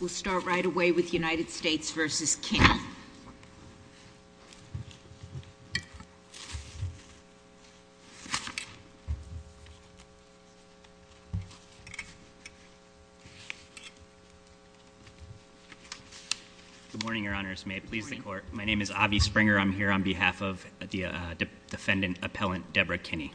We'll start right away with United States v. Kinney. Good morning, your honors. May it please the court. My name is Avi Springer. I'm here on behalf of the defendant appellant, Deborah Kinney.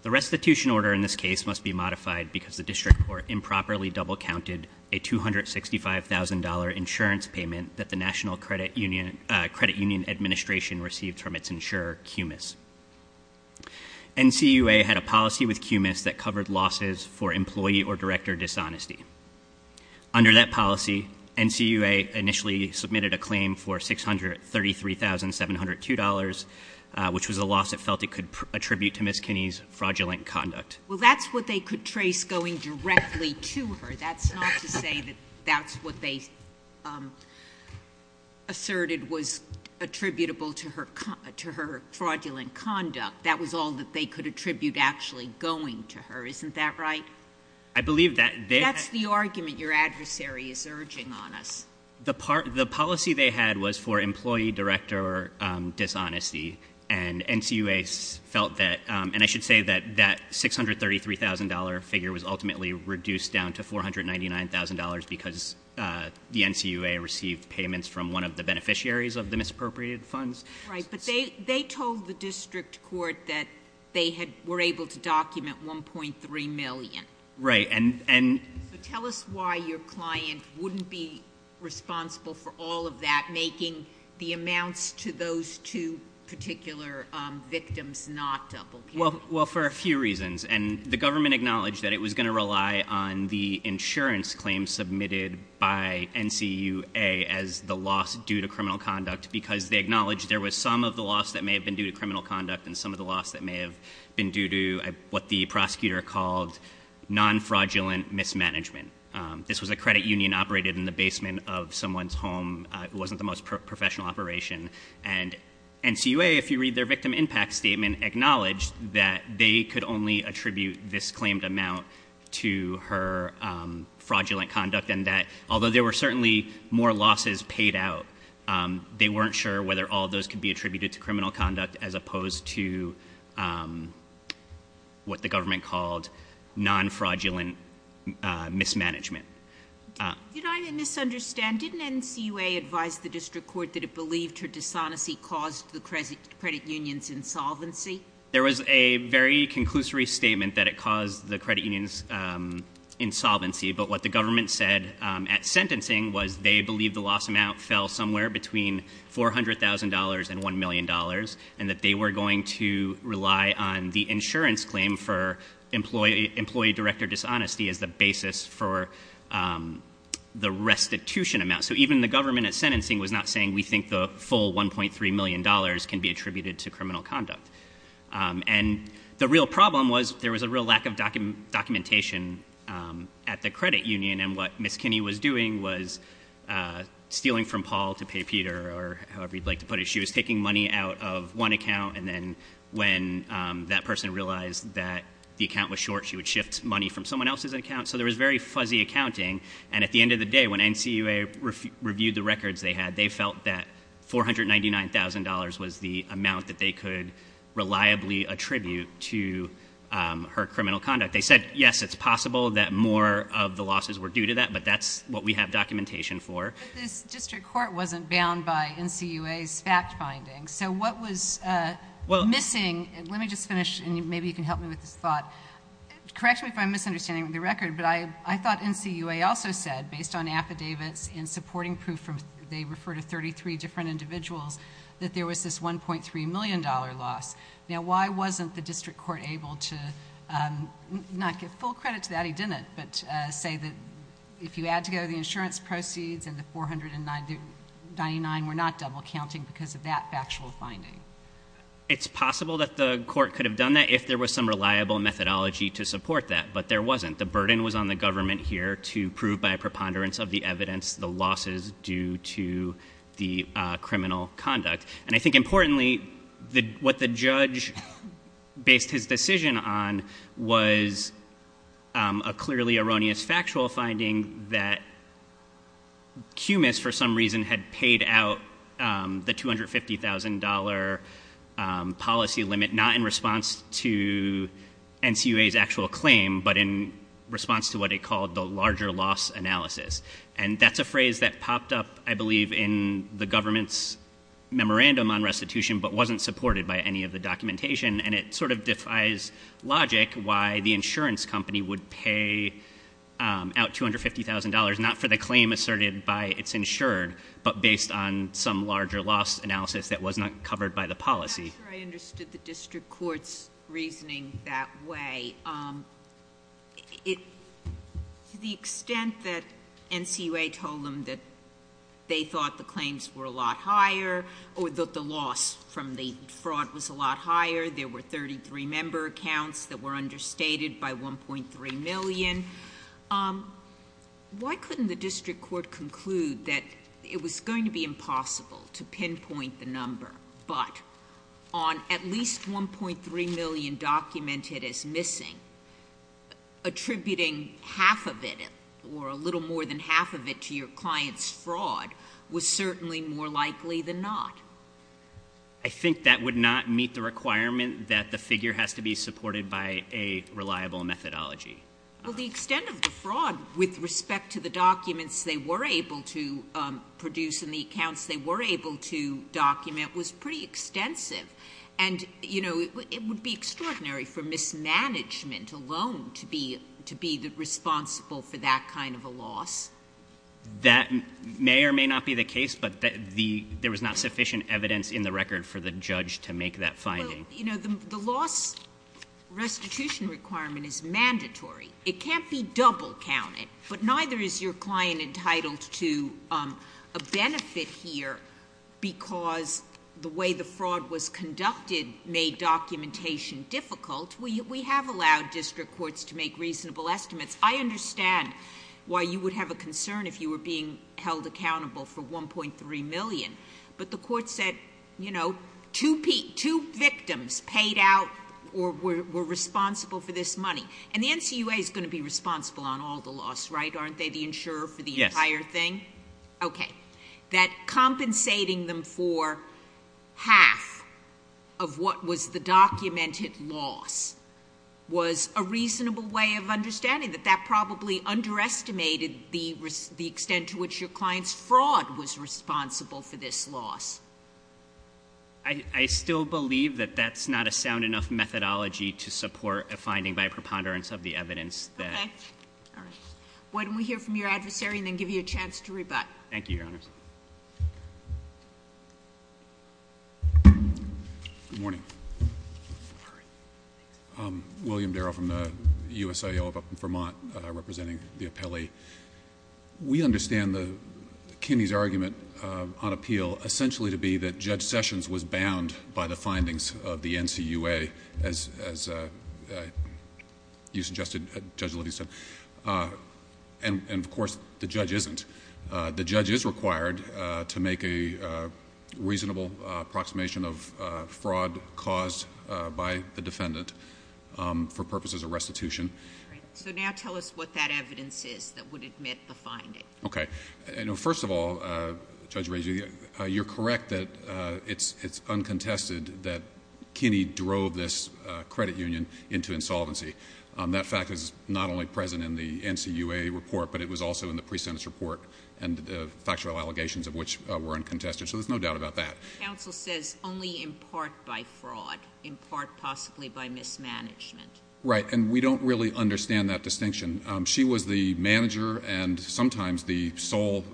The restitution order in this case must be modified because the district court improperly double counted a $265,000 insurance payment that the National Credit Union Administration received from its insurer, QMIS. NCUA had a policy with QMIS that covered losses for employee or director dishonesty. Under that policy, NCUA initially submitted a claim for $633,702, which was a loss it felt it could attribute to Ms. Kinney's fraudulent conduct. Well, that's what they could trace going directly to her. That's not to say that that's what they asserted was attributable to her fraudulent conduct. That was all that they could attribute actually going to her. Isn't that right? I believe that- That's the argument your adversary is urging on us. The policy they had was for employee director dishonesty. And NCUA felt that, and I should say that that $633,000 figure was ultimately reduced down to $499,000 because the NCUA received payments from one of the beneficiaries of the misappropriated funds. Right, but they told the district court that they were able to document 1.3 million. Right, and- Tell us why your client wouldn't be responsible for all of that, making the amounts to those two particular victims not double count. Well, for a few reasons. And the government acknowledged that it was going to rely on the insurance claims submitted by NCUA as the loss due to criminal conduct, because they acknowledged there was some of the loss that may have been due to criminal conduct, and some of the loss that may have been due to what the prosecutor called non-fraudulent mismanagement. This was a credit union operated in the basement of someone's home, it wasn't the most professional operation. And NCUA, if you read their victim impact statement, acknowledged that they could only attribute this claimed amount to her fraudulent conduct. Although there were certainly more losses paid out, they weren't sure whether all of those could be attributed to criminal conduct, as opposed to what the government called non-fraudulent mismanagement. Did I misunderstand? Didn't NCUA advise the district court that it believed her dishonesty caused the credit union's insolvency? There was a very conclusory statement that it caused the credit union's insolvency. But what the government said at sentencing was they believed the loss amount fell somewhere between $400,000 and $1 million. And that they were going to rely on the insurance claim for employee director dishonesty as the basis for the restitution amount. So even the government at sentencing was not saying we think the full $1.3 million can be attributed to criminal conduct. And the real problem was there was a real lack of documentation at the credit union. And what Ms. Kinney was doing was stealing from Paul to pay Peter, or however you'd like to put it. She was taking money out of one account. And then when that person realized that the account was short, she would shift money from someone else's account. So there was very fuzzy accounting. And at the end of the day, when NCUA reviewed the records they had, they felt that $499,000 was the amount that they could reliably attribute to her criminal conduct. They said, yes, it's possible that more of the losses were due to that, but that's what we have documentation for. But this district court wasn't bound by NCUA's fact findings. So what was missing, let me just finish and maybe you can help me with this thought. Correct me if I'm misunderstanding the record, but I thought NCUA also said based on affidavits and over to 33 different individuals, that there was this $1.3 million loss. Now why wasn't the district court able to not give full credit to that, he didn't, but say that if you add together the insurance proceeds and the $499,000 were not double counting because of that factual finding? It's possible that the court could have done that if there was some reliable methodology to support that, but there wasn't. The burden was on the government here to prove by a preponderance of the evidence the losses due to the criminal conduct. And I think importantly, what the judge based his decision on was a clearly erroneous factual finding that QMIS for some reason had paid out the $250,000 policy limit, not in response to NCUA's actual claim, but in response to what he called the larger loss analysis. And that's a phrase that popped up, I believe, in the government's memorandum on restitution, but wasn't supported by any of the documentation. And it sort of defies logic why the insurance company would pay out $250,000 not for the claim asserted by its insured, but based on some larger loss analysis that was not covered by the policy. I'm not sure I understood the district court's reasoning that way. To the extent that NCUA told them that they thought the claims were a lot higher, or that the loss from the fraud was a lot higher, there were 33 member accounts that were understated by 1.3 million. Why couldn't the district court conclude that it was going to be impossible to pinpoint the number, but on at least 1.3 million documented as missing, attributing half of it, or a little more than half of it, to your client's fraud was certainly more likely than not. I think that would not meet the requirement that the figure has to be supported by a reliable methodology. Well, the extent of the fraud with respect to the documents they were able to produce and the accounts they were able to document was pretty extensive. And it would be extraordinary for mismanagement alone to be responsible for that kind of a loss. That may or may not be the case, but there was not sufficient evidence in the record for the judge to make that finding. The loss restitution requirement is mandatory. It can't be double counted, but neither is your client entitled to a benefit here, because the way the fraud was conducted made documentation difficult. We have allowed district courts to make reasonable estimates. I understand why you would have a concern if you were being held accountable for 1.3 million. But the court said, two victims paid out or were responsible for this money. And the NCUA is going to be responsible on all the loss, right? Aren't they the insurer for the entire thing? Okay. That compensating them for half of what was the documented loss was a reasonable way of understanding that that probably underestimated the extent to which your client's fraud was responsible for this loss. I still believe that that's not a sound enough methodology to support a finding by preponderance of the evidence that- Okay, all right. Why don't we hear from your adversary, and then give you a chance to rebut. Thank you, Your Honors. Good morning. William Darrow from the USIO up in Vermont, representing the appellee. We understand Kenny's argument on appeal essentially to be that Judge Sessions was bound by the findings of the NCUA as you suggested, Judge Liddy said, and of course, the judge isn't. The judge is required to make a reasonable approximation of fraud caused by the defendant for purposes of restitution. So now tell us what that evidence is that would admit the finding. Okay. First of all, Judge Rager, you're correct that it's uncontested that Kenny drove this credit union into insolvency. That fact is not only present in the NCUA report, but it was also in the pre-sentence report and the factual allegations of which were uncontested. So there's no doubt about that. Counsel says only in part by fraud, in part possibly by mismanagement. Right, and we don't really understand that distinction. She was the manager and sometimes the sole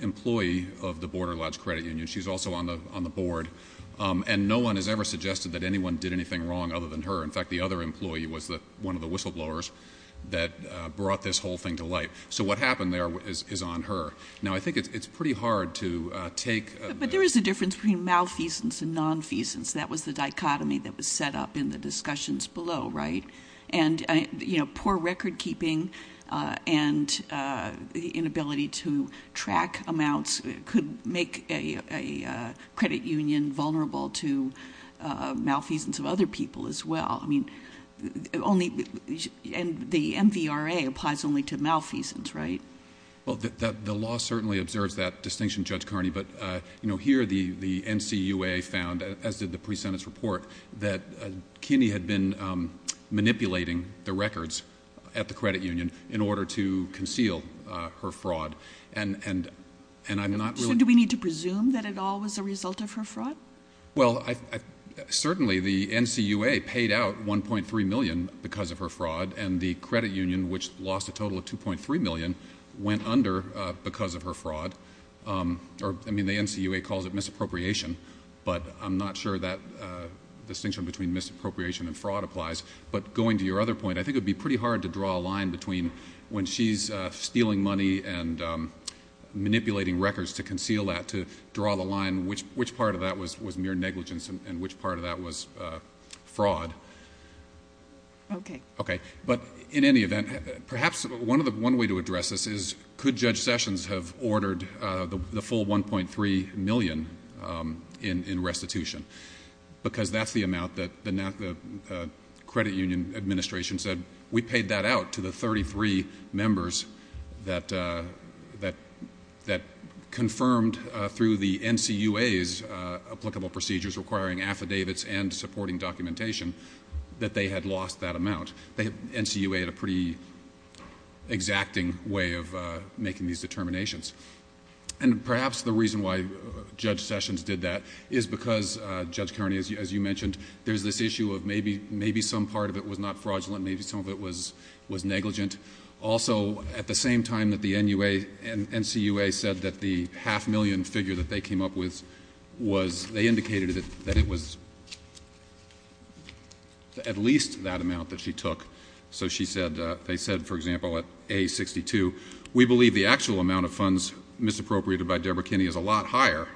employee of the Border Lodge Credit Union. She's also on the board. And no one has ever suggested that anyone did anything wrong other than her. In fact, the other employee was one of the whistleblowers that brought this whole thing to light. So what happened there is on her. Now I think it's pretty hard to take- But there is a difference between malfeasance and nonfeasance. That was the dichotomy that was set up in the discussions below, right? And poor record keeping and the inability to track amounts could make a credit union vulnerable to malfeasance of other people as well. I mean, and the MVRA applies only to malfeasance, right? Well, the law certainly observes that distinction, Judge Carney. But here the NCUA found, as did the pre-sentence report, that Kinney had been manipulating the records at the credit union in order to conceal her fraud. And I'm not really- So do we need to presume that it all was a result of her fraud? Well, certainly the NCUA paid out 1.3 million because of her fraud. And the credit union, which lost a total of 2.3 million, went under because of her fraud. Or, I mean, the NCUA calls it misappropriation. But I'm not sure that distinction between misappropriation and fraud applies. But going to your other point, I think it would be pretty hard to draw a line between when she's stealing money and manipulating records to conceal that, to draw the line which part of that was mere negligence and which part of that was fraud. Okay. Okay, but in any event, perhaps one way to address this is, could Judge Sessions have ordered the full 1.3 million in restitution? Because that's the amount that the credit union administration said, we paid that out to the 33 members that confirmed through the NCUA's applicable procedures requiring affidavits and supporting documentation. That they had lost that amount. The NCUA had a pretty exacting way of making these determinations. And perhaps the reason why Judge Sessions did that is because, Judge Kearney, as you mentioned, there's this issue of maybe some part of it was not fraudulent, maybe some of it was negligent. Also, at the same time that the NCUA said that the half million figure that they came up with was, they indicated that it was at least that amount that she took. So she said, they said, for example, at A62, we believe the actual amount of funds misappropriated by Deborah Kinney is a lot higher.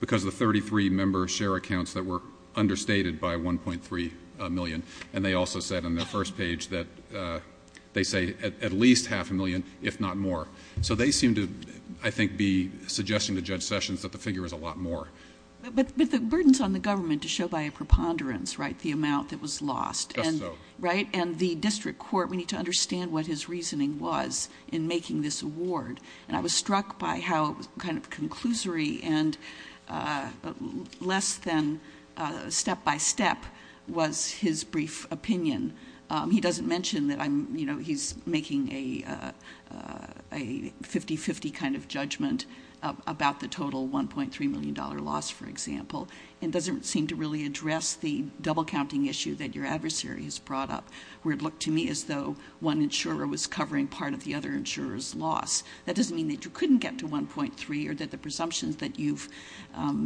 Because the 33 members share accounts that were understated by 1.3 million. And they also said on their first page that they say at least half a million, if not more. So they seem to, I think, be suggesting to Judge Sessions that the figure is a lot more. But the burden's on the government to show by a preponderance, right, the amount that was lost. Just so. Right? And the district court, we need to understand what his reasoning was in making this award. And I was struck by how it was kind of conclusory and less than step by step was his brief opinion. He doesn't mention that he's making a 50-50 kind of judgment about the total $1.3 million loss, for example. It doesn't seem to really address the double counting issue that your adversary has brought up. Where it looked to me as though one insurer was covering part of the other insurer's loss. That doesn't mean that you couldn't get to 1.3 or that the presumptions that you've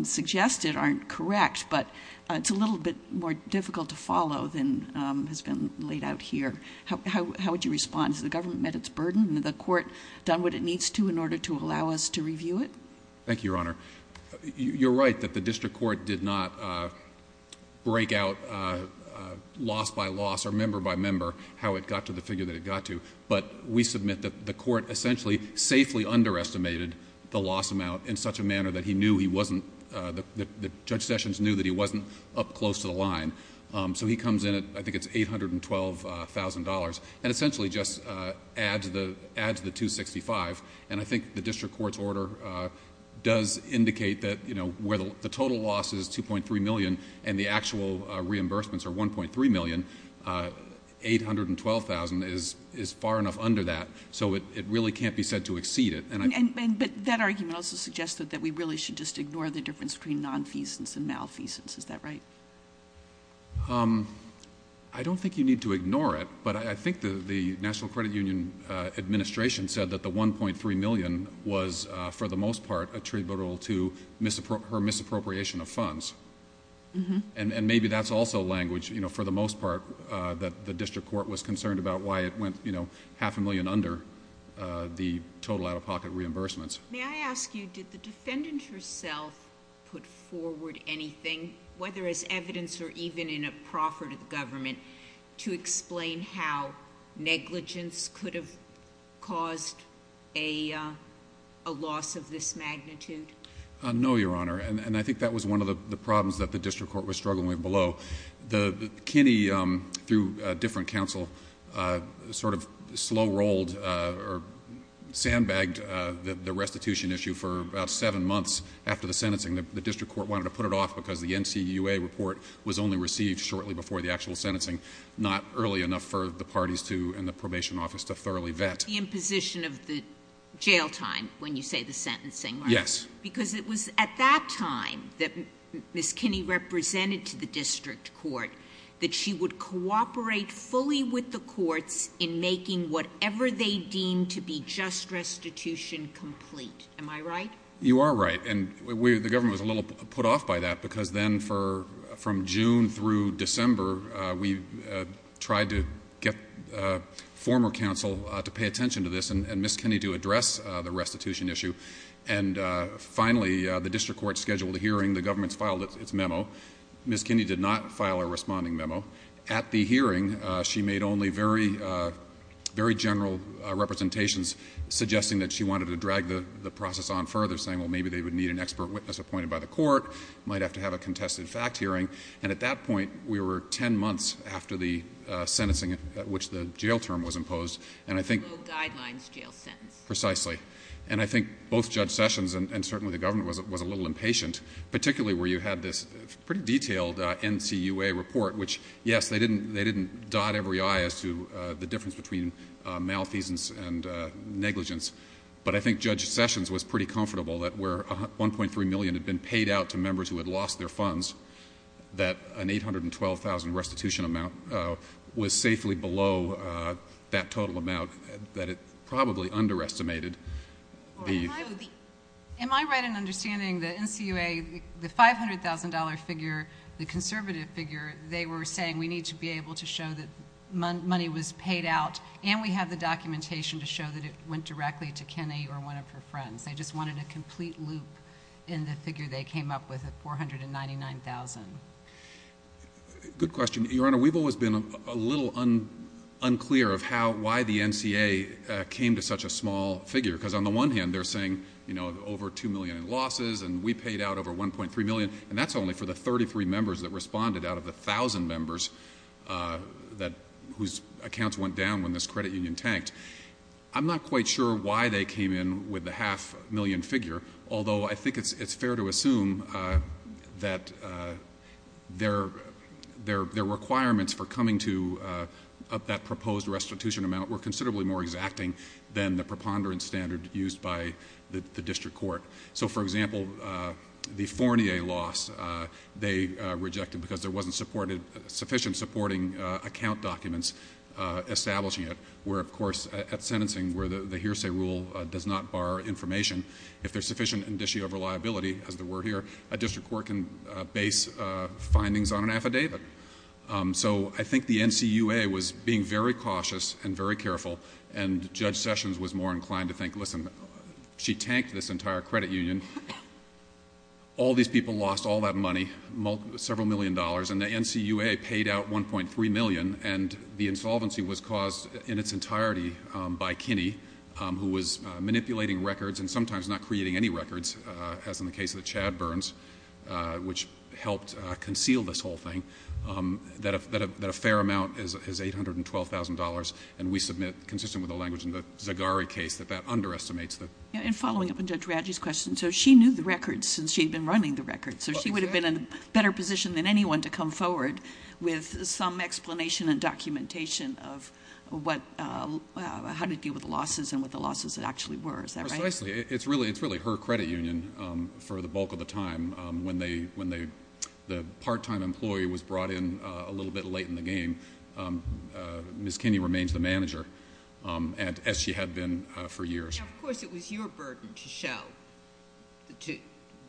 suggested aren't correct. But it's a little bit more difficult to follow than has been laid out here. How would you respond? Has the government met its burden? And the court done what it needs to in order to allow us to review it? Thank you, Your Honor. You're right that the district court did not break out loss by loss or member by member how it got to the figure that it got to. But we submit that the court essentially safely underestimated the loss amount in such a manner that he knew he wasn't, that Judge Sessions knew that he wasn't up close to the line. So he comes in at, I think it's $812,000. And essentially just adds the 265. And I think the district court's order does indicate that where the total loss is 2.3 million and the actual reimbursements are 1.3 million, 812,000 is far enough under that. So it really can't be said to exceed it. But that argument also suggests that we really should just ignore the difference between nonfeasance and malfeasance, is that right? I don't think you need to ignore it. But I think the National Credit Union administration said that the 1.3 million was, for the most part, attributable to her misappropriation of funds. And maybe that's also language, for the most part, that the district court was concerned about why it went half a million under the total out of pocket reimbursements. May I ask you, did the defendant herself put forward anything, whether as evidence or even in a proffer to the government, to explain how negligence could have caused a loss of this magnitude? No, Your Honor, and I think that was one of the problems that the district court was struggling with below. The Kinney, through a different counsel, sort of slow rolled or did a restitution issue for about seven months after the sentencing. The district court wanted to put it off because the NCUA report was only received shortly before the actual sentencing. Not early enough for the parties to, and the probation office, to thoroughly vet. The imposition of the jail time, when you say the sentencing, right? Yes. Because it was at that time that Ms. Kinney represented to the district court that she would cooperate fully with the courts in making whatever they deemed to be just restitution complete. Am I right? You are right, and the government was a little put off by that because then from June through December, we tried to get former counsel to pay attention to this and Ms. Kinney to address the restitution issue. And finally, the district court scheduled a hearing, the government's filed its memo. Ms. Kinney did not file a responding memo. At the hearing, she made only very general representations, suggesting that she wanted to drag the process on further, saying, well, maybe they would need an expert witness appointed by the court. Might have to have a contested fact hearing. And at that point, we were ten months after the sentencing at which the jail term was imposed. And I think- No guidelines jail sentence. Precisely. And I think both Judge Sessions and certainly the government was a little impatient. Particularly where you had this pretty detailed NCUA report, which yes, they didn't dot every I as to the difference between malfeasance and negligence. But I think Judge Sessions was pretty comfortable that where $1.3 million had been paid out to members who had lost their funds, that an $812,000 restitution amount was safely below that total amount. That it probably underestimated the- Am I right in understanding the NCUA, the $500,000 figure, the conservative figure, they were saying we need to be able to show that money was paid out and we have the documentation to show that it went directly to Kinney or one of her friends. They just wanted a complete loop in the figure they came up with at $499,000. Good question. Your Honor, we've always been a little unclear of how, why the NCA came to such a small figure. Because on the one hand, they're saying over 2 million in losses and we paid out over 1.3 million. And that's only for the 33 members that responded out of the 1,000 members whose accounts went down when this credit union tanked. I'm not quite sure why they came in with the half million figure. Although I think it's fair to assume that their requirements for coming to that proposed restitution amount were considerably more exacting than the preponderance standard used by the district court. So for example, the Fournier loss, they rejected because there wasn't sufficient supporting account documents establishing it. Where of course, at sentencing, where the hearsay rule does not bar information. If there's sufficient indicio of reliability, as there were here, a district court can base findings on an affidavit. So I think the NCUA was being very cautious and very careful. And Judge Sessions was more inclined to think, listen, she tanked this entire credit union. All these people lost all that money, several million dollars, and the NCUA paid out 1.3 million. And the insolvency was caused in its entirety by Kinney, who was manipulating records and sometimes not creating any records, as in the case of the Chad Burns, which helped conceal this whole thing. That a fair amount is $812,000, and we submit, consistent with the language in the Zagari case, that that underestimates the- And following up on Judge Radji's question, so she knew the records since she'd been running the records. So she would have been in a better position than anyone to come forward with some explanation and documentation of how to deal with the losses and what the losses actually were, is that right? Precisely, it's really her credit union for the bulk of the time. When the part-time employee was brought in a little bit late in the game, Ms. Kinney remains the manager, as she had been for years. Now, of course, it was your burden to show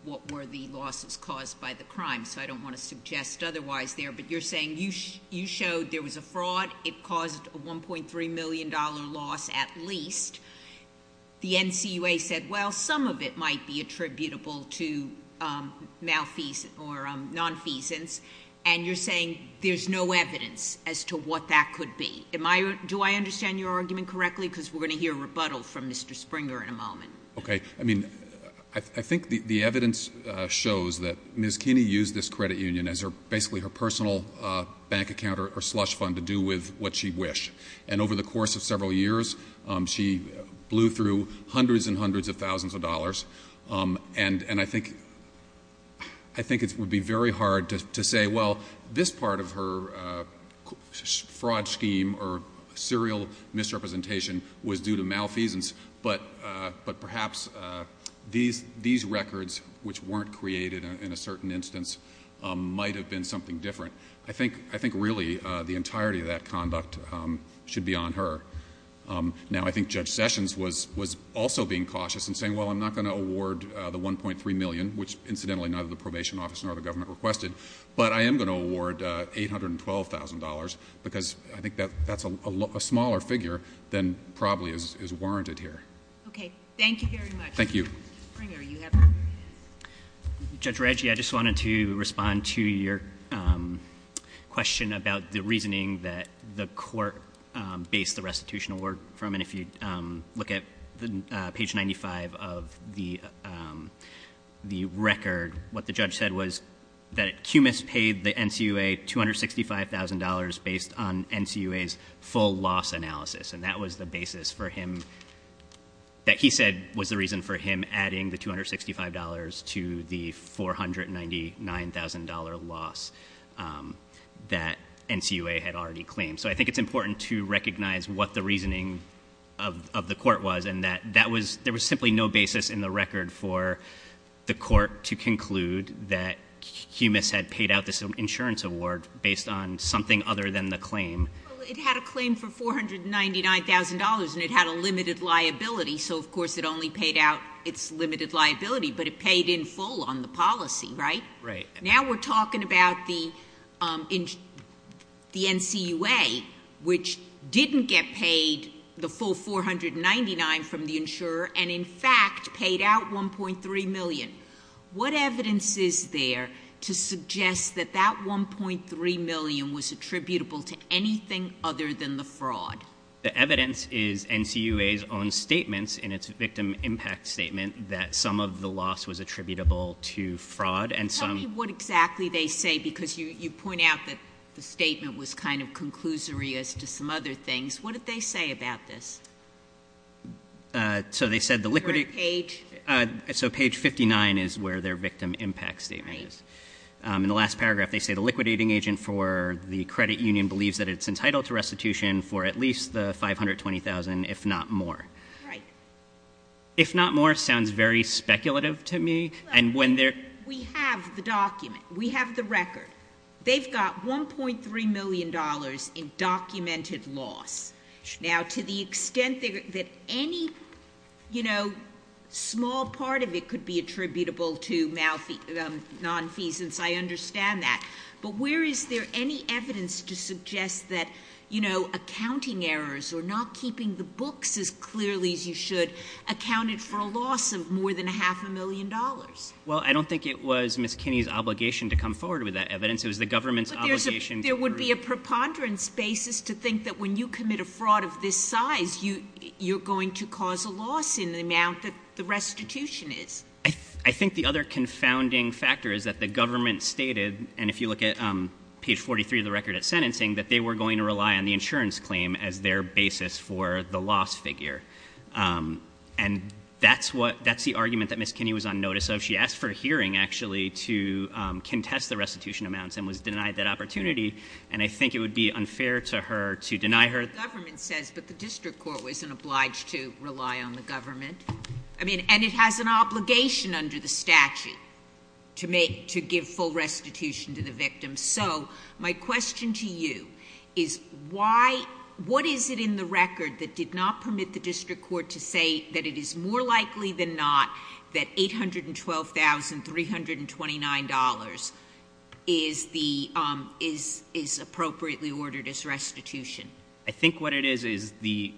what were the losses caused by the crime. So I don't want to suggest otherwise there, but you're saying you showed there was a fraud. It caused a $1.3 million loss at least. The NCUA said, well, some of it might be attributable to malfeasance or non-feasance. And you're saying there's no evidence as to what that could be. Do I understand your argument correctly? because we're going to hear a rebuttal from Mr. Springer in a moment. Okay, I mean, I think the evidence shows that Ms. Kinney used this credit union as basically her personal bank account or slush fund to do with what she wished. And over the course of several years, she blew through hundreds and hundreds of thousands of dollars. And I think it would be very hard to say, well, this part of her fraud scheme or serial misrepresentation was due to malfeasance. But perhaps these records, which weren't created in a certain instance, might have been something different. I think really, the entirety of that conduct should be on her. Now, I think Judge Sessions was also being cautious and saying, well, I'm not going to award the 1.3 million, which incidentally, neither the probation office nor the government requested, but I am going to award $812,000, because I think that's a smaller figure than probably is warranted here. Okay, thank you very much. Thank you. Frank, are you happy? Judge Reggie, I just wanted to respond to your question about the reasoning that the court based the restitution award from. And if you look at page 95 of the record, what the judge said was that QMIS paid the NCUA $265,000 based on NCUA's full loss analysis. And that was the basis for him, that he said was the reason for him adding the $265 to the $499,000 loss that NCUA had already claimed. So I think it's important to recognize what the reasoning of the court was, and that there was simply no basis in the record for the court to conclude that QMIS had paid out this insurance award based on something other than the claim. It had a claim for $499,000 and it had a limited liability, so of course it only paid out its limited liability, but it paid in full on the policy, right? Right. Now we're talking about the NCUA, which didn't get paid the full 499 from the insurer, and in fact paid out 1.3 million. What evidence is there to suggest that that 1.3 million was attributable to anything other than the fraud? The evidence is NCUA's own statements in its victim impact statement that some of the loss was attributable to fraud. And some- Tell me what exactly they say, because you point out that the statement was kind of conclusory as to some other things. What did they say about this? So they said the liquidating- Where page? So page 59 is where their victim impact statement is. In the last paragraph, they say the liquidating agent for the credit union believes that it's entitled to restitution for at least the $520,000, if not more. Right. If not more sounds very speculative to me, and when they're- We have the document. We have the record. They've got $1.3 million in documented loss. Now, to the extent that any small part of it could be attributable to non-feasance, I understand that. But where is there any evidence to suggest that accounting errors or not keeping the books as clearly as you should accounted for a loss of more than a half a million dollars? Well, I don't think it was Ms. Kinney's obligation to come forward with that evidence. It was the government's obligation to- But a fraud of this size, you're going to cause a loss in the amount that the restitution is. I think the other confounding factor is that the government stated, and if you look at page 43 of the record at sentencing, that they were going to rely on the insurance claim as their basis for the loss figure. And that's the argument that Ms. Kinney was on notice of. She asked for a hearing, actually, to contest the restitution amounts and was denied that opportunity. And I think it would be unfair to her to deny her- The government says, but the district court wasn't obliged to rely on the government. I mean, and it has an obligation under the statute to give full restitution to the victim. So, my question to you is, what is it in the record that did not permit the district court to say that it is more likely than not that $812,329 is appropriately ordered as restitution? I think what it is is the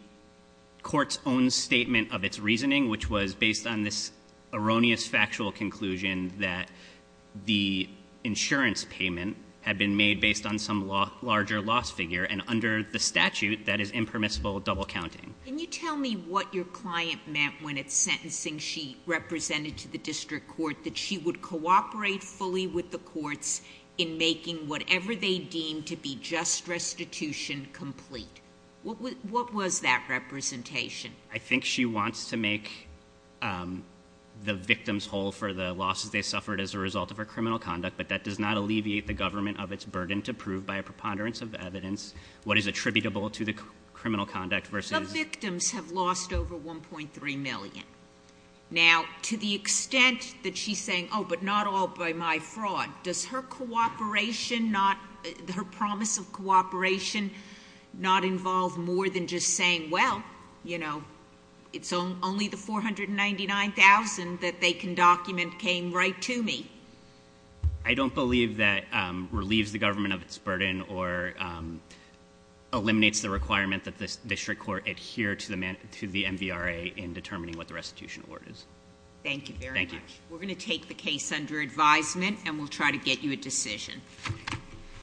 court's own statement of its reasoning, which was based on this erroneous factual conclusion that the insurance payment had been made based on some larger loss figure, and under the statute, that is impermissible double counting. Can you tell me what your client meant when it's sentencing she represented to the district court, that she would cooperate fully with the courts in making whatever they deemed to be just restitution complete? What was that representation? I think she wants to make the victims whole for the losses they suffered as a result of her criminal conduct, but that does not alleviate the government of its burden to prove by a preponderance of evidence what is attributable to the criminal conduct versus- The victims have lost over 1.3 million. Now, to the extent that she's saying, but not all by my fraud. Does her cooperation, her promise of cooperation, not involve more than just saying, well, it's only the 499,000 that they can document came right to me. I don't believe that relieves the government of its burden or eliminates the requirement that the district court adhere to the MVRA in determining what the restitution award is. Thank you very much. Thank you. We're going to take the case under advisement and we'll try to get you a decision.